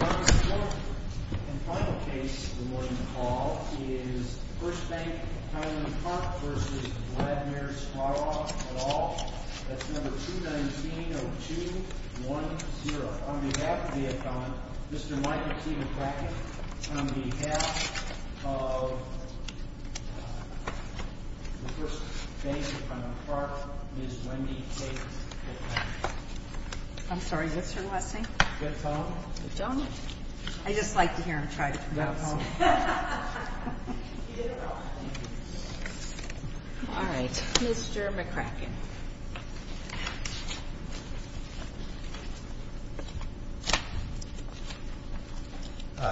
Number 4, and final case for the morning call is First Bank of Highland Park v. Vladimir Sklarov et al. That's number 219-0210. On behalf of the attorney, Mr. Michael C. McCracken. On behalf of the First Bank of Highland Park, Ms. Wendy Kate McCracken. I'm sorry, what's your last name? I just like to hear him try to pronounce it. All right, Mr. McCracken.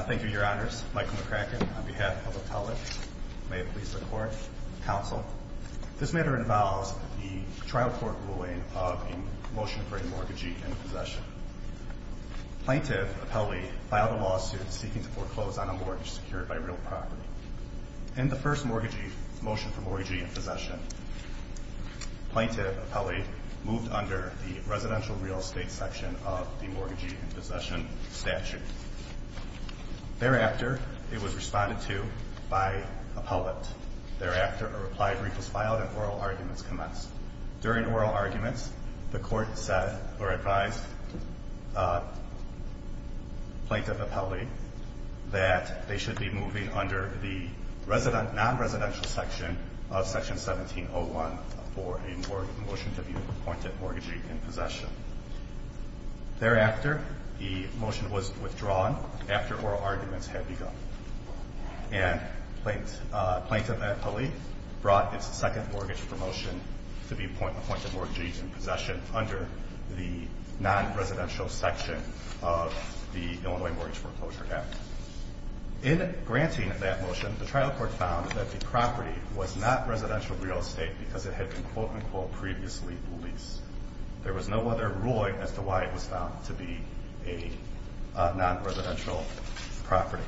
Thank you, your honors. Michael McCracken on behalf of the public. May it please the court. Counsel, this matter involves the trial court ruling of a motion for a mortgagee in possession. Plaintiff Apelli filed a lawsuit seeking to foreclose on a mortgage secured by real property. In the first motion for mortgagee in possession, plaintiff Apelli moved under the residential real estate section of the mortgagee in possession statute. Thereafter, it was responded to by appellate. Thereafter, a reply brief was filed and oral arguments commenced. During oral arguments, the court advised plaintiff Apelli that they should be moving under the non-residential section of section 1701 for a motion to be appointed mortgagee in possession. Thereafter, the motion was withdrawn after oral arguments had begun. And plaintiff Apelli brought its second mortgage for motion to be appointed mortgagee in possession under the non-residential section of the Illinois Mortgage Foreclosure Act. In granting that motion, the trial court found that the property was not residential real estate because it had been quote unquote previously leased. There was no other ruling as to why it was found to be a non-residential property.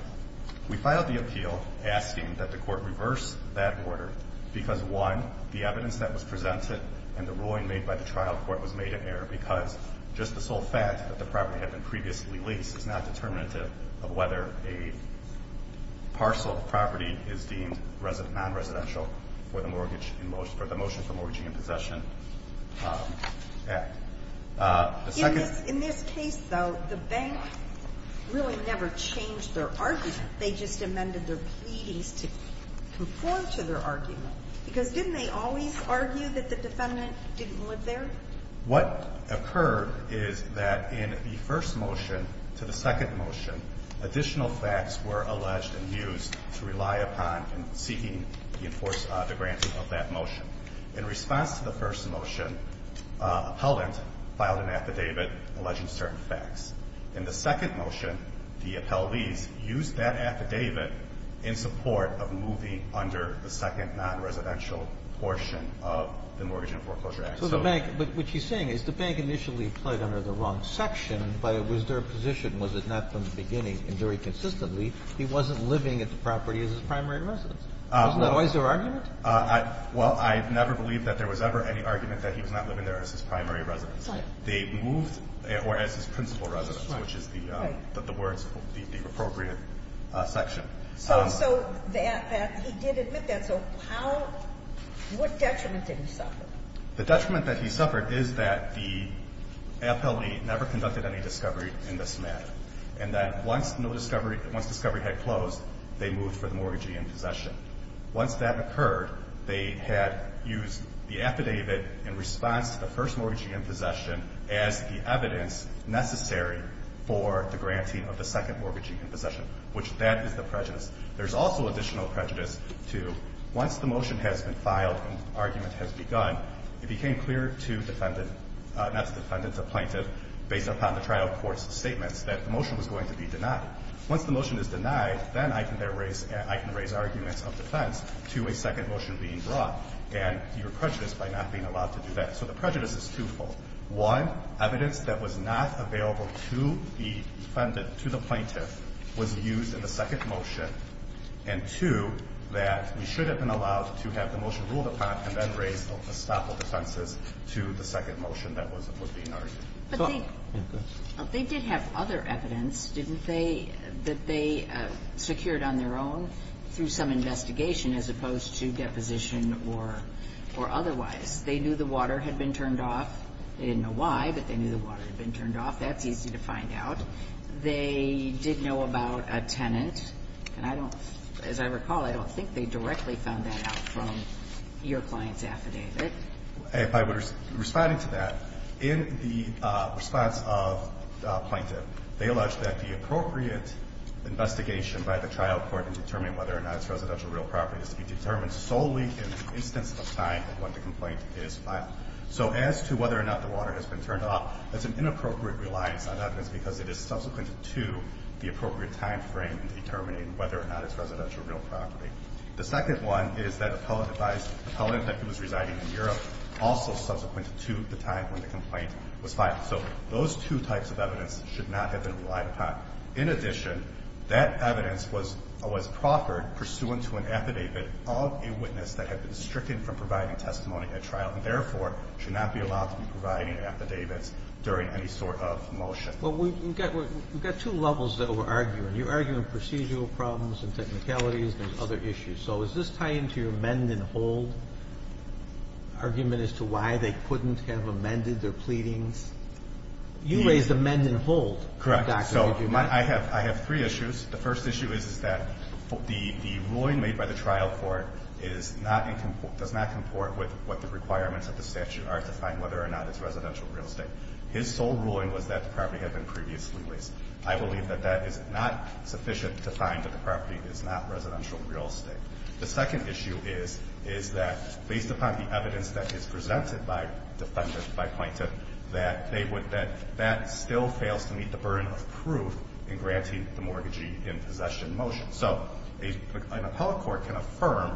We filed the appeal asking that the court reverse that order because one, the evidence that was presented and the ruling made by the trial court was made in error because just the sole fact that the property had been previously leased is not determinative of whether a parcel of property is deemed non-residential In this case, though, the bank really never changed their argument. They just amended their pleadings to conform to their argument. Because didn't they always argue that the defendant didn't live there? What occurred is that in the first motion to the second motion, additional facts were alleged and used to rely upon in seeking to enforce the granting of that motion. In response to the first motion, appellant filed an affidavit alleging certain facts. In the second motion, the appellees used that affidavit in support of moving under the second non-residential portion of the Mortgage and Foreclosure Act. So the bank, what she's saying is the bank initially pled under the wrong section. Was there a position? Was it not from the beginning? And very consistently, he wasn't living at the property as his primary residence. Wasn't that always their argument? Well, I never believed that there was ever any argument that he was not living there as his primary residence. Right. They moved or as his principal residence, which is the words, the appropriate section. So that, he did admit that. So how, what detriment did he suffer? The detriment that he suffered is that the appellee never conducted any discovery in this matter, and that once no discovery, once discovery had closed, they moved for the mortgagee in possession. Once that occurred, they had used the affidavit in response to the first mortgagee in possession as the evidence necessary for the granting of the second mortgagee in possession, which that is the prejudice. There's also additional prejudice to once the motion has been filed and argument has begun, it became clear to defendant, not to defendant, to plaintiff, based upon the trial court's statements, that the motion was going to be denied. Once the motion is denied, then I can then raise, I can raise arguments of defense to a second motion being brought, and your prejudice by not being allowed to do that. So the prejudice is twofold. One, evidence that was not available to the defendant, to the plaintiff, was used in the second motion, and two, that we should have been allowed to have the motion ruled upon and then raised a stop of defenses to the second motion that was being argued. But they did have other evidence, didn't they, that they secured on their own through some investigation as opposed to deposition or otherwise. They knew the water had been turned off. They didn't know why, but they knew the water had been turned off. That's easy to find out. They did know about a tenant, and I don't, as I recall, I don't think they directly found that out from your client's affidavit. If I were responding to that, in the response of the plaintiff, they alleged that the appropriate investigation by the trial court in determining whether or not it's residential real property is to be determined solely in the instance of time when the complaint is filed. So as to whether or not the water has been turned off, that's an inappropriate reliance on evidence because it is subsequent to the appropriate timeframe in determining whether or not it's residential real property. The second one is that the appellant that was residing in Europe also subsequent to the time when the complaint was filed. So those two types of evidence should not have been relied upon. In addition, that evidence was proffered pursuant to an affidavit of a witness of the trial court. So the trial court should not be allowed to be providing affidavits during any sort of motion. Well, we've got two levels that we're arguing. You're arguing procedural problems and technicalities and other issues. So does this tie into your mend and hold argument as to why they couldn't have amended their pleadings? You raised amend and hold. Correct. So I have three issues. The first issue is that the ruling made by the trial court does not comport with what the requirements of the statute are to find whether or not it's residential real estate. His sole ruling was that the property had been previously leased. I believe that that is not sufficient to find that the property is not residential real estate. The second issue is that, based upon the evidence that is presented by defenders by plaintiff, that that still fails to meet the burden of proof in granting the mortgagee in possession motion. So an appellate court can affirm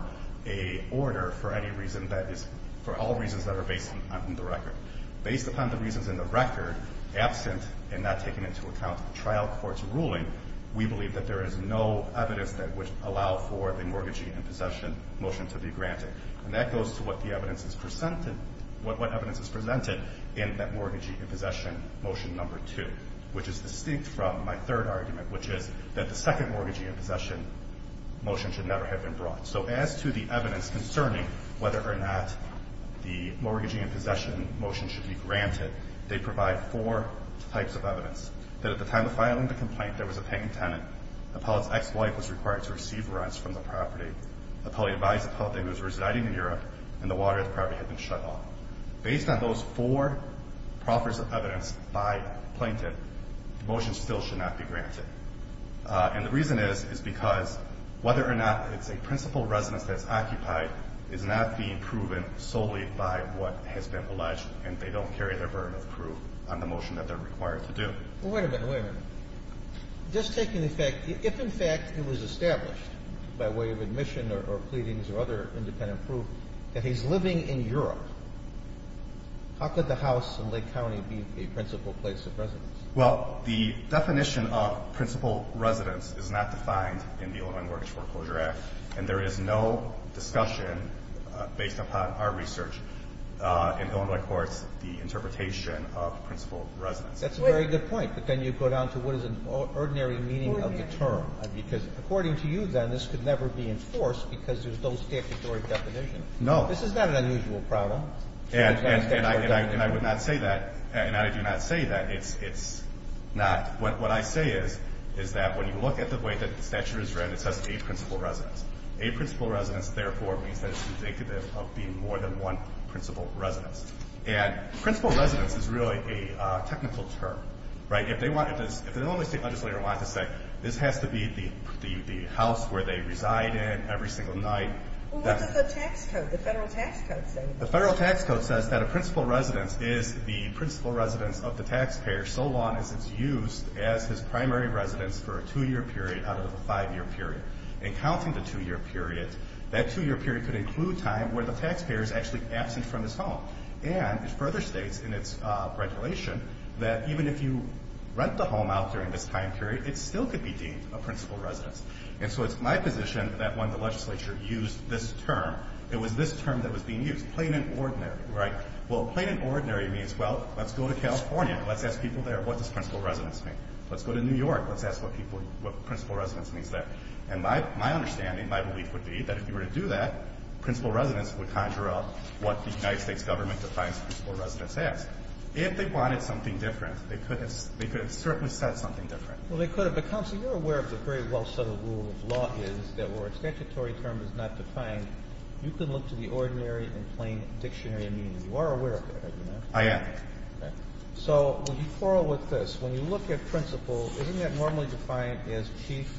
a order for any reason that is – for all reasons that are based on the record. Based upon the reasons in the record, absent and not taken into account the trial court's ruling, we believe that there is no evidence that would allow for the mortgagee in possession motion to be granted. And that goes to what the evidence is presented – what evidence is presented in that mortgagee in possession motion number two, which is distinct from my third argument, which is that the second mortgagee in possession motion should never have been brought. So as to the evidence concerning whether or not the mortgagee in possession motion should be granted, they provide four types of evidence. That at the time of filing the complaint, there was a paying tenant, appellate's ex-wife was required to receive rents from the property, appellate advised appellate that he was residing in Europe, and the water at the property had been shut off. Based on those four proffers of evidence by plaintiff, the motion still should not be granted. And the reason is, is because whether or not it's a principal residence that's occupied is not being proven solely by what has been alleged, and they don't carry their burden of proof on the motion that they're required to do. Well, wait a minute. Wait a minute. Just taking the fact – if, in fact, it was established by way of admission or pleadings or other independent proof that he's living in Europe, how could the house in Lake County be a principal place of residence? Well, the definition of principal residence is not defined in the Illinois Mortgage Foreclosure Act. And there is no discussion, based upon our research in Illinois courts, the interpretation of principal residence. That's a very good point. But then you go down to what is an ordinary meaning of the term, because according to you, then, this could never be enforced because there's no statutory definition. No. This is not an unusual problem. And I would not say that – and I do not say that it's not – what I say is, is that when you look at the way that the statute is written, it says a principal residence. A principal residence, therefore, means that it's indicative of being more than one principal residence. And principal residence is really a technical term. Right? If they wanted to – if the Illinois State legislator wanted to say, this has to be the house where they reside in every single night – Well, what does the tax code, the Federal tax code, say? The Federal tax code says that a principal residence is the principal residence of the taxpayer so long as it's used as his primary residence for a two-year period out of a five-year period. And counting the two-year period, that two-year period could include time where the taxpayer is actually absent from his home. And it further states in its regulation that even if you rent the home out during this time period, it still could be deemed a principal residence. And so it's my position that when the legislature used this term, it was this term that was being used, plain and ordinary. Right? Well, plain and ordinary means, well, let's go to California. Let's ask people there, what does principal residence mean? Let's go to New York. Let's ask what people – what principal residence means there. And my understanding, my belief would be that if you were to do that, principal residence would conjure up what the United States government defines principal residence as. If they wanted something different, they could have – they could have certainly said something different. Well, they could have. But, counsel, you're aware of the very well-settled rule of law is that where a statutory term is not defined, you can look to the ordinary and plain dictionary meaning. You are aware of that, are you not? I am. Okay. So would you quarrel with this? When you look at principal, isn't that normally defined as chief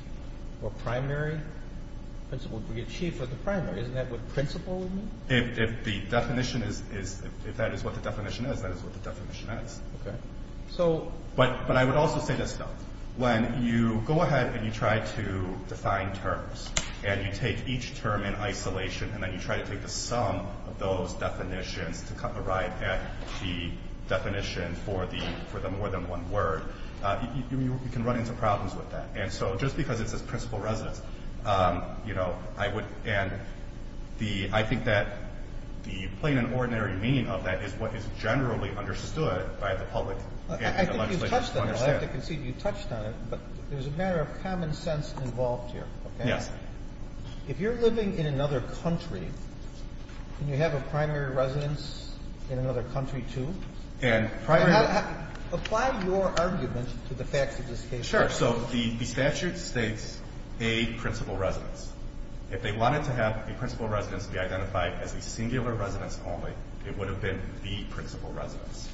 or primary? Principal would be a chief or the primary. Isn't that what principal would mean? If the definition is – if that is what the definition is, that is what the definition is. Okay. So – But I would also say this, though. When you go ahead and you try to define terms and you take each term in isolation and then you try to take the sum of those definitions to arrive at the definition for the – for the more than one word, you can run into problems with that. And so just because it says principal residence, you know, I would – and the – I think that the plain and ordinary meaning of that is what is generally understood by the public and the legislature to understand. But there's a matter of common sense involved here, okay? Yes. If you're living in another country, can you have a primary residence in another country, too? And primary – Apply your argument to the facts of this case. Sure. So the statute states a principal residence. If they wanted to have a principal residence be identified as a singular residence only, it would have been the principal residence.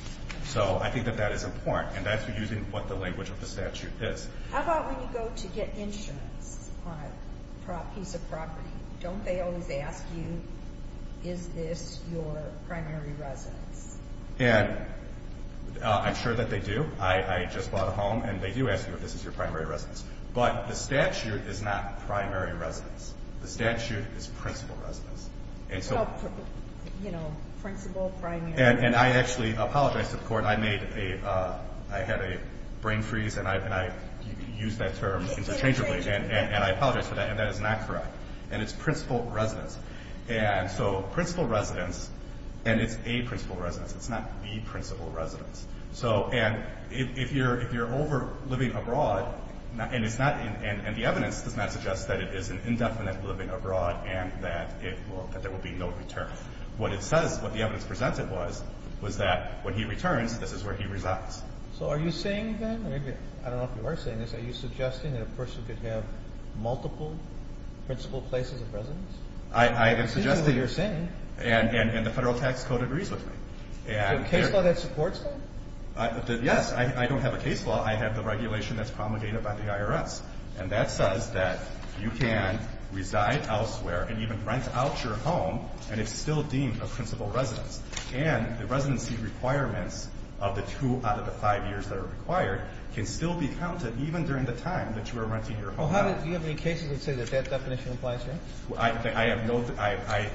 So I think that that is important, and that's using what the language of the statute is. How about when you go to get insurance on a piece of property? Don't they always ask you, is this your primary residence? And I'm sure that they do. I just bought a home, and they do ask you if this is your primary residence. But the statute is not primary residence. The statute is principal residence. And so – Oh, you know, principal, primary. And I actually apologized to the court. I made a – I had a brain freeze, and I used that term interchangeably. And I apologize for that, and that is not correct. And it's principal residence. And so principal residence, and it's a principal residence. It's not the principal residence. So – and if you're over living abroad, and it's not – and the evidence does not suggest that it is an indefinite living abroad and that it will – that there will be no return. What it says – what the evidence presents it was, was that when he returns, this is where he resides. So are you saying then – I don't know if you are saying this. Are you suggesting that a person could have multiple principal places of residence? I have suggested – It seems as though you're saying. And the Federal Tax Code agrees with me. Do you have a case law that supports that? Yes. I don't have a case law. I have the regulation that's promulgated by the IRS. And that says that you can reside elsewhere and even rent out your home, and it's still deemed a principal residence. And the residency requirements of the two out of the five years that are required can still be counted even during the time that you are renting your home out. Do you have any cases that say that that definition applies here? I have no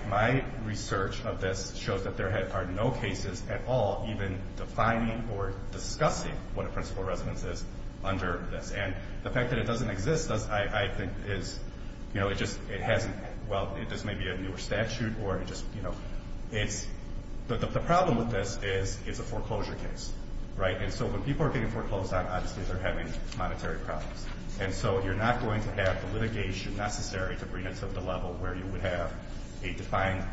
– my research of this shows that there are no cases at all even defining or discussing what a principal residence is under this. And the fact that it doesn't exist, I think, is – you know, it just – it hasn't – well, this may be a newer statute, or it just – you know, it's – the problem with this is it's a foreclosure case. Right? And so when people are being foreclosed on, obviously they're having monetary problems. And so you're not going to have the litigation necessary to bring it to the level where you would have a defined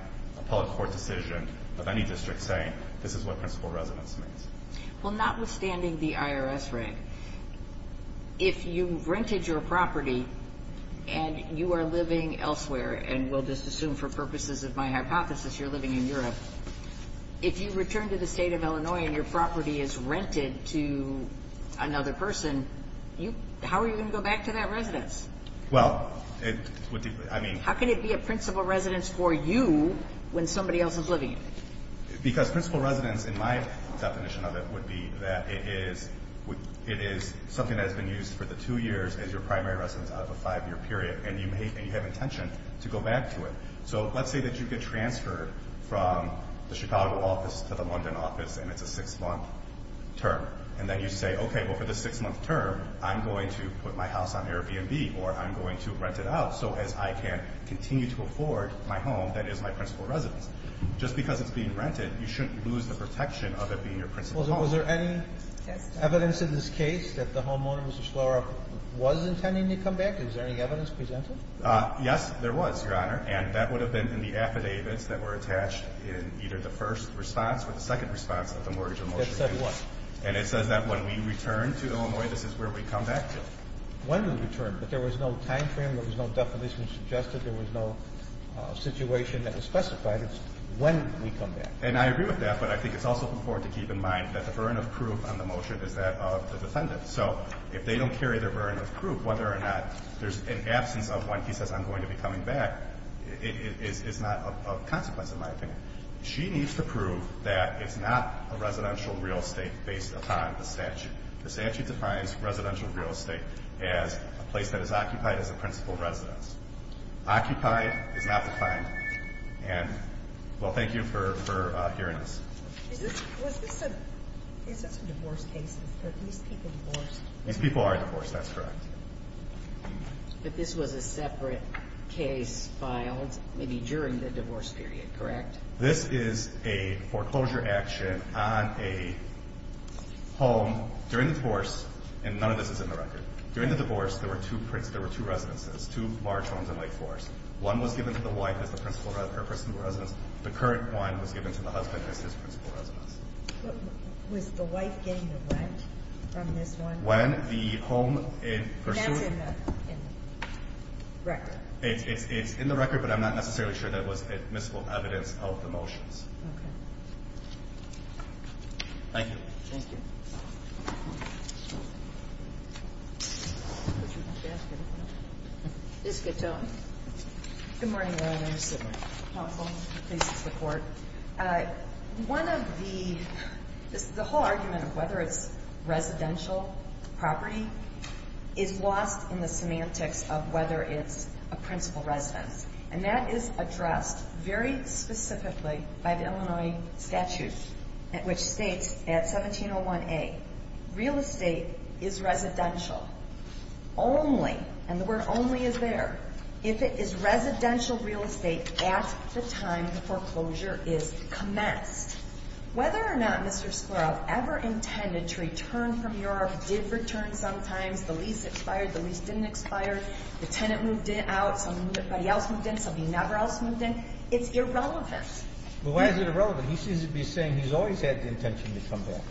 public court decision of any district saying, this is what principal residence means. Well, notwithstanding the IRS reg, if you've rented your property and you are living elsewhere, and we'll just assume for purposes of my hypothesis you're living in Europe, if you return to the state of Illinois and your property is rented to another person, you – how are you going to go back to that residence? Well, it would be – I mean – How can it be a principal residence for you when somebody else is living in it? Because principal residence, in my definition of it, would be that it is something that has been used for the two years as your primary residence out of a five-year period, and you may – and you have intention to go back to it. So let's say that you get transferred from the Chicago office to the London office, and it's a six-month term. And then you say, okay, well, for the six-month term, I'm going to put my house on Airbnb, or I'm going to rent it out so as I can continue to afford my home that is my principal residence. Just because it's being rented, you shouldn't lose the protection of it being your principal home. Well, was there any evidence in this case that the homeowner, Mr. Shlora, was intending to come back? Is there any evidence presented? Yes, there was, Your Honor. And that would have been in the affidavits that were attached in either the first response or the second response of the Mortgage of Motion case. That said what? And it says that when we return to Illinois, this is where we come back to. When we return, but there was no timeframe, there was no definition suggested, there was no situation that was specified. It's when we come back. And I agree with that, but I think it's also important to keep in mind that the burden of proof on the motion is that of the defendant. So if they don't carry their burden of proof, whether or not there's an absence of when he says I'm going to be coming back is not of consequence in my opinion. She needs to prove that it's not a residential real estate based upon the statute. The statute defines residential real estate as a place that is occupied as a principal residence. Occupied is not defined. And, well, thank you for hearing this. Was this a divorce case? Are these people divorced? These people are divorced, that's correct. But this was a separate case filed maybe during the divorce period, correct? This is a foreclosure action on a home during the divorce, and none of this is in the record. During the divorce, there were two residences, two large homes in Lake Forest. One was given to the wife as the principal residence. The current one was given to the husband as his principal residence. Was the wife getting the rent from this one? When the home in pursuit? That's in the record. It's in the record, but I'm not necessarily sure that it was admissible evidence of the motions. Okay. Thank you. Thank you. Ms. Katone. Good morning, Your Honor. Sit down. Please support. One of the – the whole argument of whether it's residential property is lost in the semantics of whether it's a principal residence. And that is addressed very specifically by the Illinois statute, which states at 1701A, real estate is residential only – and the word only is there – if it is residential real estate at the time the foreclosure is commenced. Whether or not Mr. Sklaroff ever intended to return from Europe, did return sometimes, the lease expired, the lease didn't expire, the tenant moved out, somebody else moved in, somebody never else moved in, it's irrelevant. Well, why is it irrelevant? He seems to be saying he's always had the intention to come back.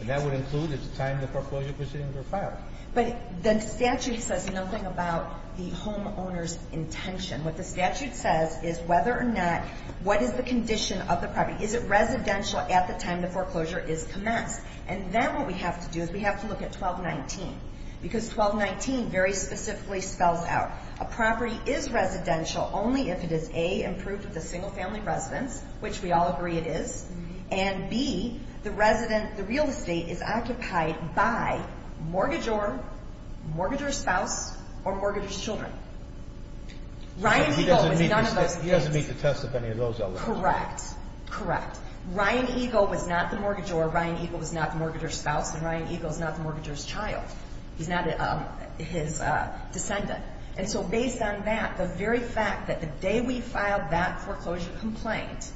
And that would include at the time the foreclosure proceedings were filed. But the statute says nothing about the homeowner's intention. What the statute says is whether or not – what is the condition of the property? Is it residential at the time the foreclosure is commenced? And then what we have to do is we have to look at 1219 because 1219 very specifically spells out a property is residential only if it is, A, improved with a single-family residence, which we all agree it is, and, B, the real estate is occupied by mortgagor, mortgagor spouse, or mortgagor children. Ryan Eagle was none of those things. He doesn't need to test if any of those are relevant. Correct. Correct. Ryan Eagle was not the mortgagor. Ryan Eagle was not the mortgagor's spouse. And Ryan Eagle is not the mortgagor's child. He's not his descendant. And so based on that, the very fact that the day we filed that foreclosure complaint,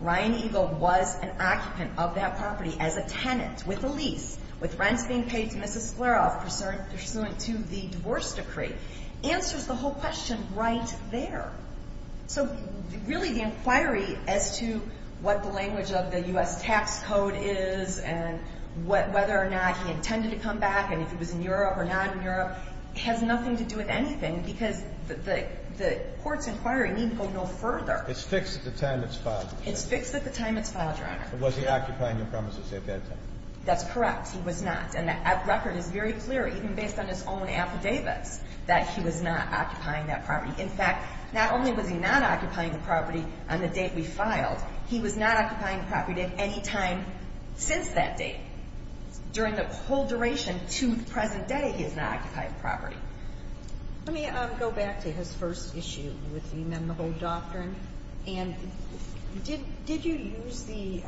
Ryan Eagle was an occupant of that property as a tenant with a lease, with rents being paid to Mrs. Scleroff pursuant to the divorce decree, answers the whole question right there. So really the inquiry as to what the language of the U.S. tax code is and whether or not he intended to come back and if he was in Europe or not in Europe has nothing to do with anything because the court's inquiry needn't go no further. It's fixed at the time it's filed. It's fixed at the time it's filed, Your Honor. But was he occupying the premises at that time? That's correct. He was not. And the record is very clear, even based on his own affidavits, that he was not occupying that property. In fact, not only was he not occupying the property on the date we filed, he was not occupying the property at any time since that date. During the whole duration to the present day, he has not occupied the property. Let me go back to his first issue with the amendable doctrine. And did you use the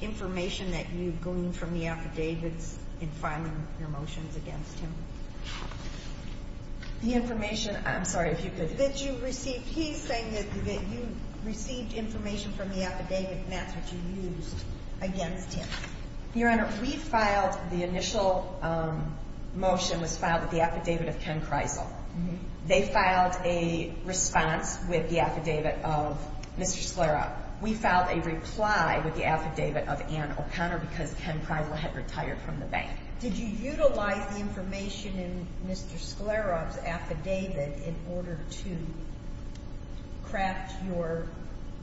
information that you've gleaned from the affidavits in filing your motions against him? The information? I'm sorry, if you could. That you received. He's saying that you received information from the affidavit and that's what you used against him. Your Honor, we filed the initial motion was filed with the affidavit of Ken Kreisel. They filed a response with the affidavit of Mr. Sclera. We filed a reply with the affidavit of Ann O'Connor because Ken Kreisel had retired from the bank. Did you utilize the information in Mr. Sclera's affidavit in order to craft your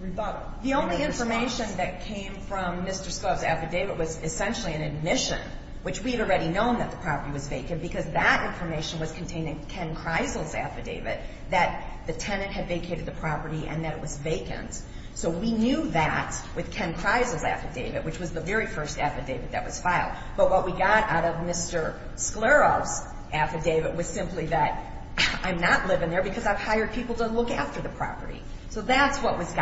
rebuttal? The only information that came from Mr. Sclera's affidavit was essentially an admission, which we had already known that the property was vacant because that information was contained in Ken Kreisel's affidavit that the tenant had vacated the property and that it was vacant. So we knew that with Ken Kreisel's affidavit, which was the very first affidavit that was filed. But what we got out of Mr. Sclera's affidavit was simply that I'm not living there because I've hired people to look after the property. So that's what was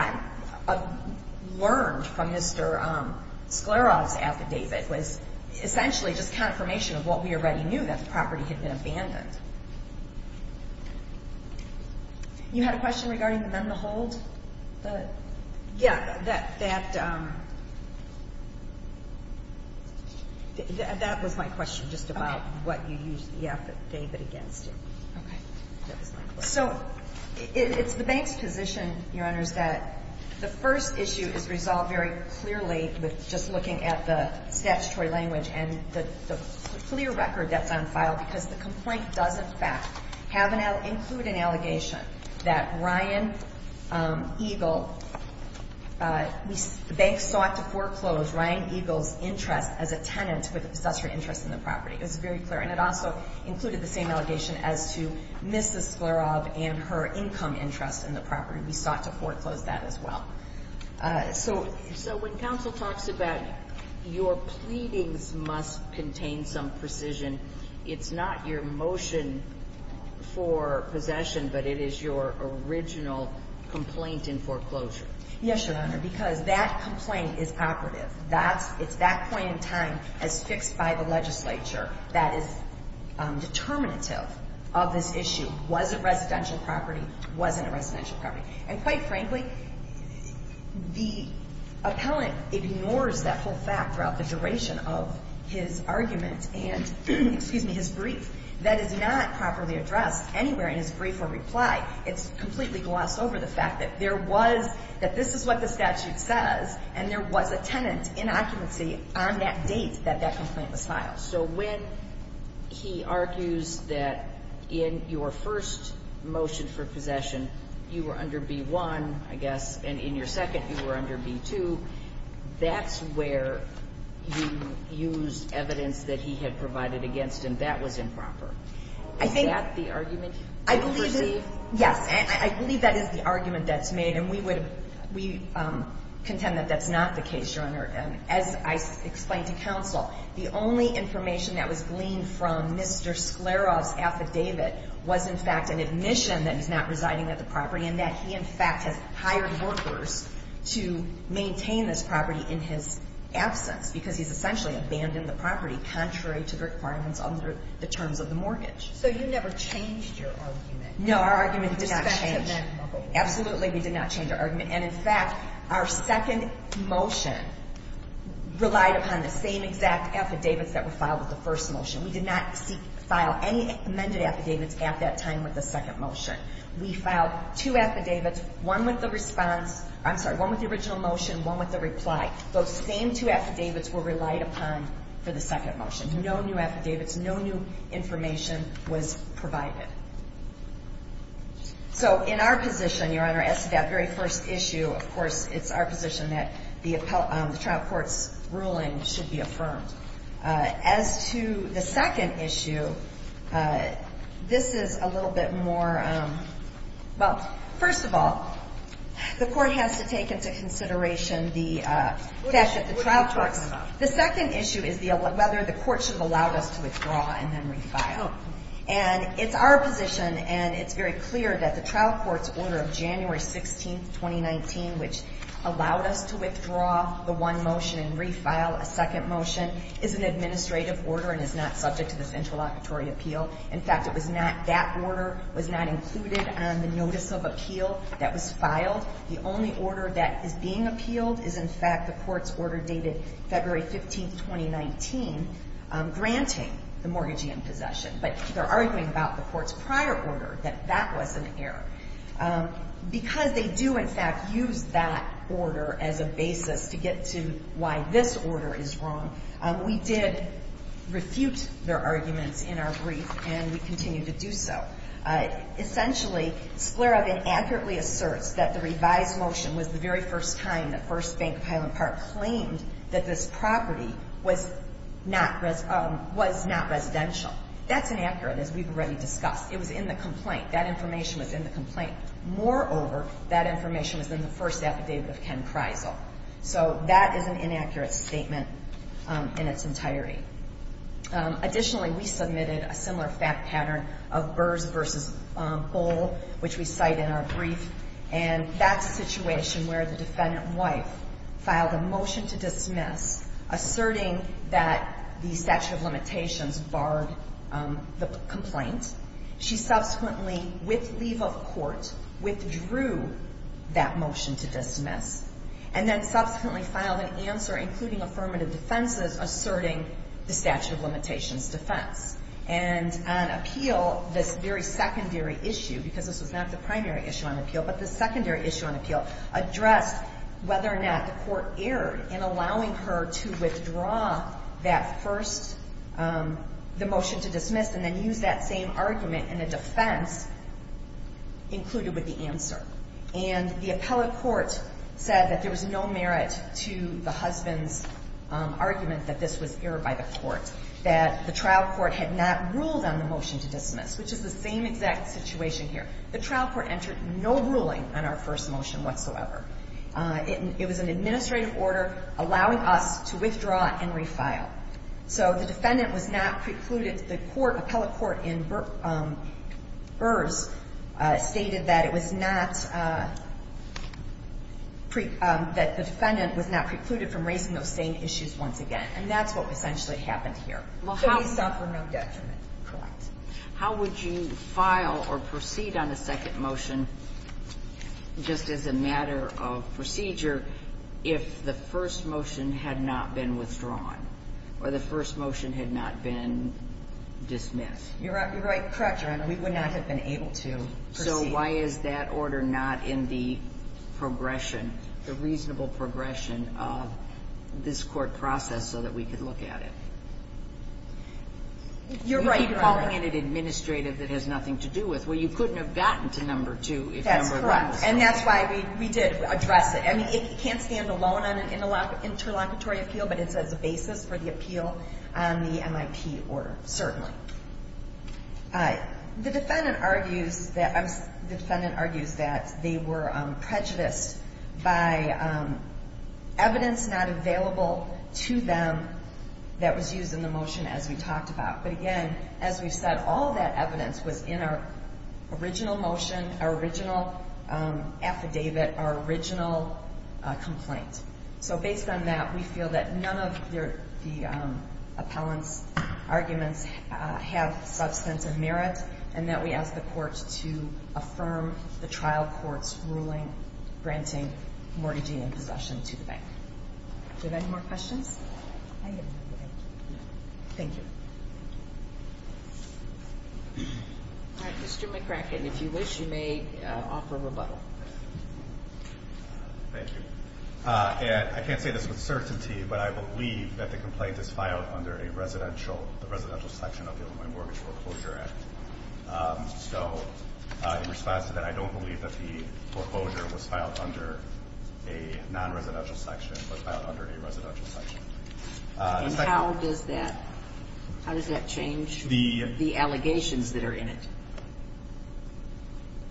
learned from Mr. Sclera's affidavit was essentially just confirmation of what we already knew, that the property had been abandoned. You had a question regarding the men-to-hold? Yeah, that was my question just about what you used the affidavit against. Okay. So it's the bank's position, Your Honors, that the first issue is resolved very clearly with just looking at the statutory language and the clear record that's on file because the complaint does, in fact, include an allegation that Ryan Eagle the bank sought to foreclose Ryan Eagle's interest as a tenant with a statutory interest in the property. It was very clear. And it also included the same allegation as to Mrs. Sclera and her income interest in the property. We sought to foreclose that as well. So when counsel talks about your pleadings must contain some precision, it's not your motion for possession, but it is your original complaint in foreclosure. Yes, Your Honor, because that complaint is operative. It's that point in time as fixed by the legislature that is determinative of this issue. Was it residential property? Wasn't it residential property? And quite frankly, the appellant ignores that whole fact throughout the duration of his argument. And, excuse me, his brief. That is not properly addressed anywhere in his brief or reply. It's completely glossed over the fact that this is what the statute says and there was a tenant in occupancy on that date that that complaint was filed. So when he argues that in your first motion for possession you were under B-1, I guess, and in your second you were under B-2, that's where you used evidence that he had provided against him. That was improper. Is that the argument you perceive? Yes. I believe that is the argument that's made, and we contend that that's not the case, Your Honor. As I explained to counsel, the only information that was gleaned from Mr. Sklaroff's affidavit was, in fact, an admission that he's not residing at the property and that he, in fact, has hired workers to maintain this property in his absence because he's essentially abandoned the property contrary to the requirements under the terms of the mortgage. So you never changed your argument? No, our argument did not change. Absolutely, we did not change our argument. And, in fact, our second motion relied upon the same exact affidavits that were filed with the first motion. We did not file any amended affidavits at that time with the second motion. We filed two affidavits, one with the response – I'm sorry, one with the original motion, one with the reply. Those same two affidavits were relied upon for the second motion. No new affidavits, no new information was provided. So in our position, Your Honor, as to that very first issue, of course, it's our position that the trial court's ruling should be affirmed. As to the second issue, this is a little bit more – well, first of all, the court has to take into consideration the fact that the trial court's – the second issue is whether the court should have allowed us to withdraw and then refile. And it's our position, and it's very clear, that the trial court's order of January 16, 2019, which allowed us to withdraw the one motion and refile a second motion, is an administrative order and is not subject to this interlocutory appeal. In fact, it was not – that order was not included on the notice of appeal that was filed. The only order that is being appealed is, in fact, the court's order dated February 15, 2019, granting the mortgagee in possession. But they're arguing about the court's prior order, that that was an error. Because they do, in fact, use that order as a basis to get to why this order is wrong, we did refute their arguments in our brief, and we continue to do so. Essentially, Sklarov inaccurately asserts that the revised motion was the very first time that First Bank of Highland Park claimed that this property was not residential. That's inaccurate, as we've already discussed. It was in the complaint. That information was in the complaint. Moreover, that information was in the first affidavit of Ken Kreisel. So that is an inaccurate statement in its entirety. Additionally, we submitted a similar fact pattern of Burrs v. Bohl, which we cite in our brief. And that's a situation where the defendant wife filed a motion to dismiss, asserting that the statute of limitations barred the complaint. She subsequently, with leave of court, withdrew that motion to dismiss, and then subsequently filed an answer, including affirmative defenses, asserting the statute of limitations defense. And on appeal, this very secondary issue, because this was not the primary issue on appeal, but the secondary issue on appeal addressed whether or not the court erred in allowing her to withdraw that first the motion to dismiss and then use that same argument in a defense included with the answer. And the appellate court said that there was no merit to the husband's argument that this was erred by the court, that the trial court had not ruled on the motion to dismiss, which is the same exact situation here. The trial court entered no ruling on our first motion whatsoever. It was an administrative order allowing us to withdraw and refile. So the defendant was not precluded. The court, appellate court in Burrs, stated that it was not pre – that the defendant was not precluded from raising those same issues once again. And that's what essentially happened here. So we suffer no detriment. Correct. How would you file or proceed on a second motion just as a matter of procedure if the first motion had not been withdrawn or the first motion had not been dismissed? You're right. You're right. Correct, Your Honor. We would not have been able to proceed. So why is that order not in the progression, the reasonable progression of this court process so that we could look at it? You're right, Your Honor. You keep calling it administrative that has nothing to do with it. Well, you couldn't have gotten to number two if number one was. That's correct. And that's why we did address it. I mean, it can't stand alone on an interlocutory appeal, but it's as a basis for the appeal on the MIP order, certainly. The defendant argues that they were prejudiced by evidence not available to them that was used in the motion as we talked about. But again, as we've said, all of that evidence was in our original motion, our original affidavit, our original complaint. So based on that, we feel that none of the appellant's arguments have substance of merit and that we ask the courts to affirm the trial court's ruling granting mortgaging and possession to the bank. Do we have any more questions? Thank you. Mr. McCracken, if you wish, you may offer rebuttal. Thank you. I can't say this with certainty, but I believe that the complaint is filed under the residential section of the Illinois Mortgage Foreclosure Act. So in response to that, I don't believe that the foreclosure was filed under a non-residential section but filed under a residential section. And how does that change the allegations that are in it?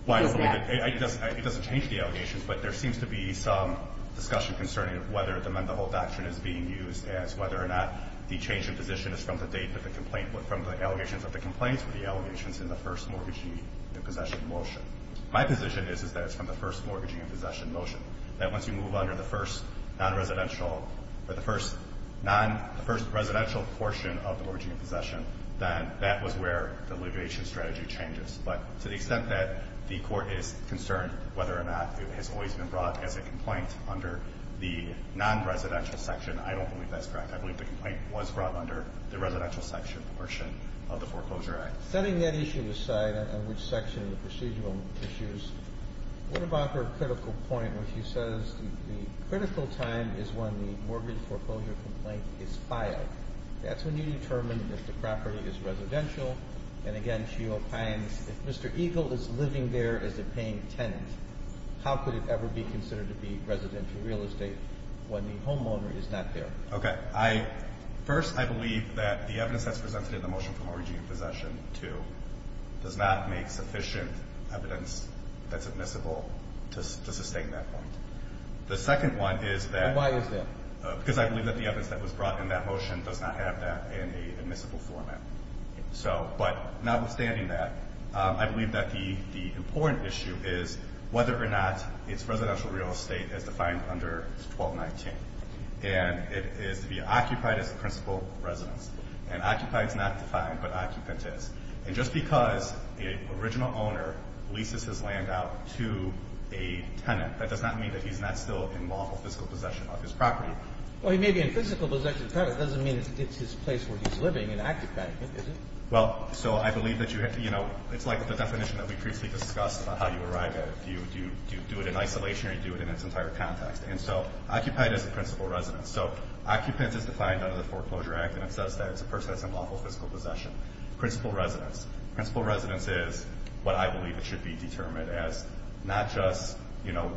Well, I don't believe it. It doesn't change the allegations, but there seems to be some discussion concerning whether the Mendehall Doctrine is being used as whether or not the change in position is from the date that the complaint was from the allegations of the complaints or the allegations in the first mortgagee and possession motion. My position is that it's from the first mortgagee and possession motion, that once you move under the first non-residential or the first non-residential portion of the mortgagee and possession, then that was where the litigation strategy changes. But to the extent that the Court is concerned whether or not it has always been brought as a complaint under the non-residential section, I don't believe that's correct. I believe the complaint was brought under the residential section portion of the foreclosure act. Setting that issue aside and which section of the procedural issues, what about her critical point when she says the critical time is when the mortgage foreclosure complaint is filed? That's when you determine if the property is residential. And again, she opines if Mr. Eagle is living there as a paying tenant, how could it ever be considered to be residential real estate when the homeowner is not there? Okay. First, I believe that the evidence that's presented in the motion for mortgagee possession 2 does not make sufficient evidence that's admissible to sustain that point. The second one is that. And why is that? Because I believe that the evidence that was brought in that motion does not have that in an admissible format. So, but notwithstanding that, I believe that the important issue is whether or not it's residential real estate as defined under 1219. And it is to be occupied as a principal residence. And occupied is not defined, but occupant is. And just because the original owner leases his land out to a tenant, that does not mean that he's not still in lawful physical possession of his property. Well, he may be in physical possession of the property. It doesn't mean it's his place where he's living and occupying it, does it? Well, so I believe that you have to, you know, it's like the definition that we previously discussed about how you arrive at it. Do you do it in isolation or do you do it in its entire context? And so occupied as a principal residence. So occupant is defined under the Foreclosure Act and it says that it's a person that's in lawful physical possession. Principal residence. Principal residence is what I believe it should be determined as not just, you know,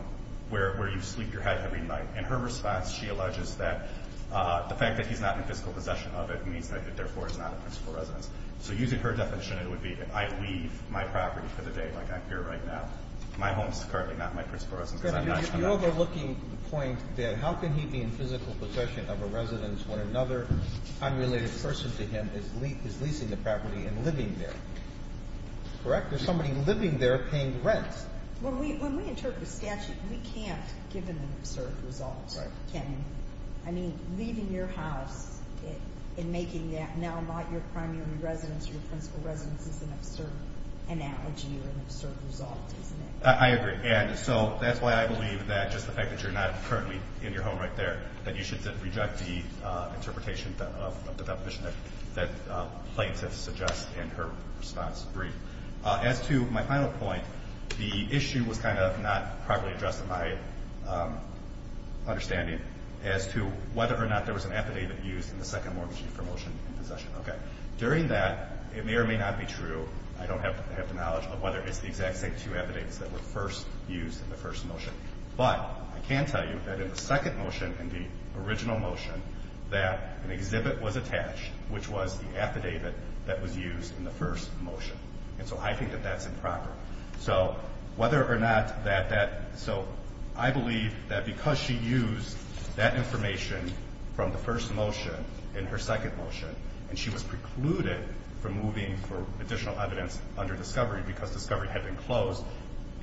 where you sleep your head every night. In her response, she alleges that the fact that he's not in physical possession of it means that it therefore is not a principal residence. So using her definition, it would be if I leave my property for the day like I'm here right now, my home is currently not my principal residence because I'm not a tenant. So you're overlooking the point that how can he be in physical possession of a residence when another unrelated person to him is leasing the property and living there, correct? There's somebody living there paying the rent. When we interpret a statute, we can't give them an absurd result, can we? I mean, leaving your house and making that now not your primary residence or your principal residence is an absurd analogy or an absurd result, isn't it? I agree. And so that's why I believe that just the fact that you're not currently in your home right there, that you should reject the interpretation of the definition that Plaintiff suggests in her response brief. As to my final point, the issue was kind of not properly addressed in my understanding as to whether or not there was an affidavit used in the second mortgagee for motion in possession. Okay. During that, it may or may not be true. I don't have the knowledge of whether it's the exact same two affidavits that were first used in the first motion. But I can tell you that in the second motion, in the original motion, that an exhibit was attached, which was the affidavit that was used in the first motion. And so I think that that's improper. So whether or not that that so I believe that because she used that information from the first motion in her second motion and she was precluded from moving for additional evidence under discovery, because discovery had been closed,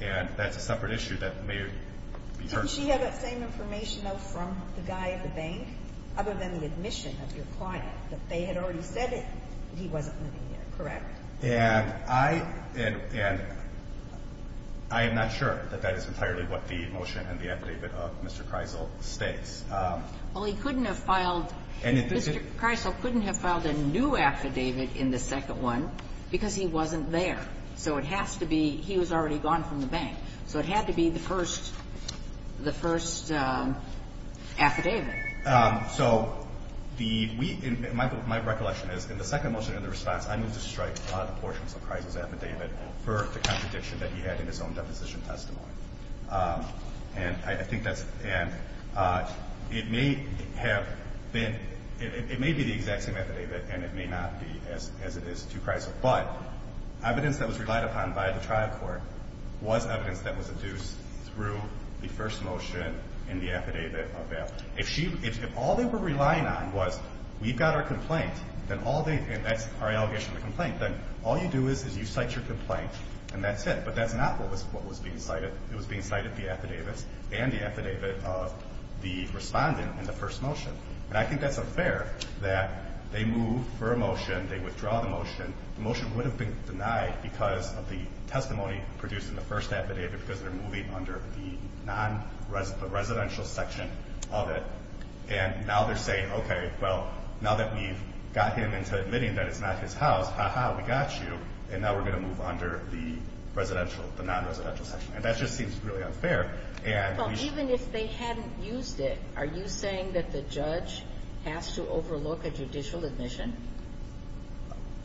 and that's a separate issue that may be heard. Didn't she have that same information, though, from the guy at the bank, other than the admission of your client, that they had already said it and he wasn't moving it, correct? And I am not sure that that is entirely what the motion and the affidavit of Mr. Kreisel states. Well, he couldn't have filed Mr. Kreisel couldn't have filed a new affidavit in the second one because he wasn't there. So it has to be he was already gone from the bank. So it had to be the first affidavit. So my recollection is in the second motion in the response, I moved to strike the portions of Kreisel's affidavit for the contradiction that he had in his own deposition testimony. And I think that's and it may have been it may be the exact same affidavit and it may not be as it is to Kreisel. But evidence that was relied upon by the trial court was evidence that was adduced through the first motion in the affidavit of them. If she if all they were relying on was we've got our complaint, then all they and that's our allegation of the complaint, then all you do is you cite your complaint and that's it. But that's not what was being cited. It was being cited the affidavits and the affidavit of the respondent in the first motion. And I think that's unfair that they moved for a motion. They withdraw the motion. The motion would have been denied because of the testimony produced in the first affidavit because they're moving under the non-residential section of it. And now they're saying, okay, well, now that we've got him into admitting that it's not his house, ha-ha, we got you. And now we're going to move under the residential, the non-residential section. And that just seems really unfair. Well, even if they hadn't used it, are you saying that the judge has to overlook a judicial admission?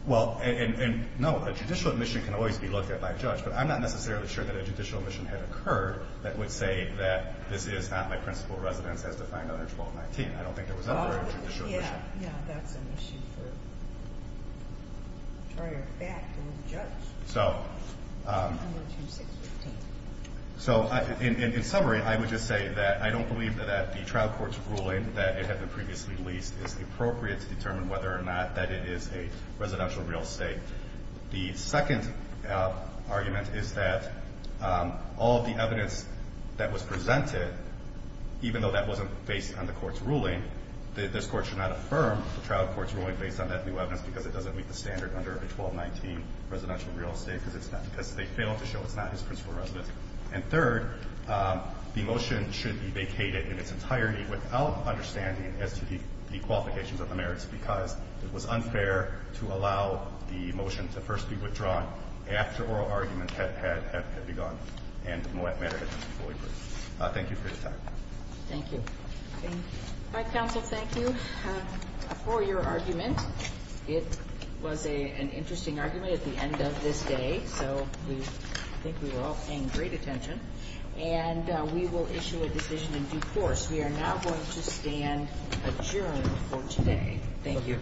Well, no. A judicial admission can always be looked at by a judge. But I'm not necessarily sure that a judicial admission had occurred that would say that this is not my principal residence as defined under 1219. I don't think there was ever a judicial admission. Yeah, that's an issue for prior fact or the judge. So in summary, I would just say that I don't believe that the trial court's ruling that it had been previously leased is appropriate to determine whether or not that it is a residential real estate. The second argument is that all of the evidence that was presented, even though that wasn't based on the court's ruling, this court should not affirm the trial court's ruling based on that new evidence because it doesn't meet the standard under 1219 residential real estate because they failed to show it's not his principal residence. And third, the motion should be vacated in its entirety without understanding as to the qualifications of the merits because it was unfair to allow the motion to first be withdrawn after oral argument had begun and matter had been fully proved. Thank you for your time. Thank you. All right, counsel, thank you for your argument. It was an interesting argument at the end of this day. So I think we were all paying great attention. And we will issue a decision in due course. We are now going to stand adjourned for today. Thank you.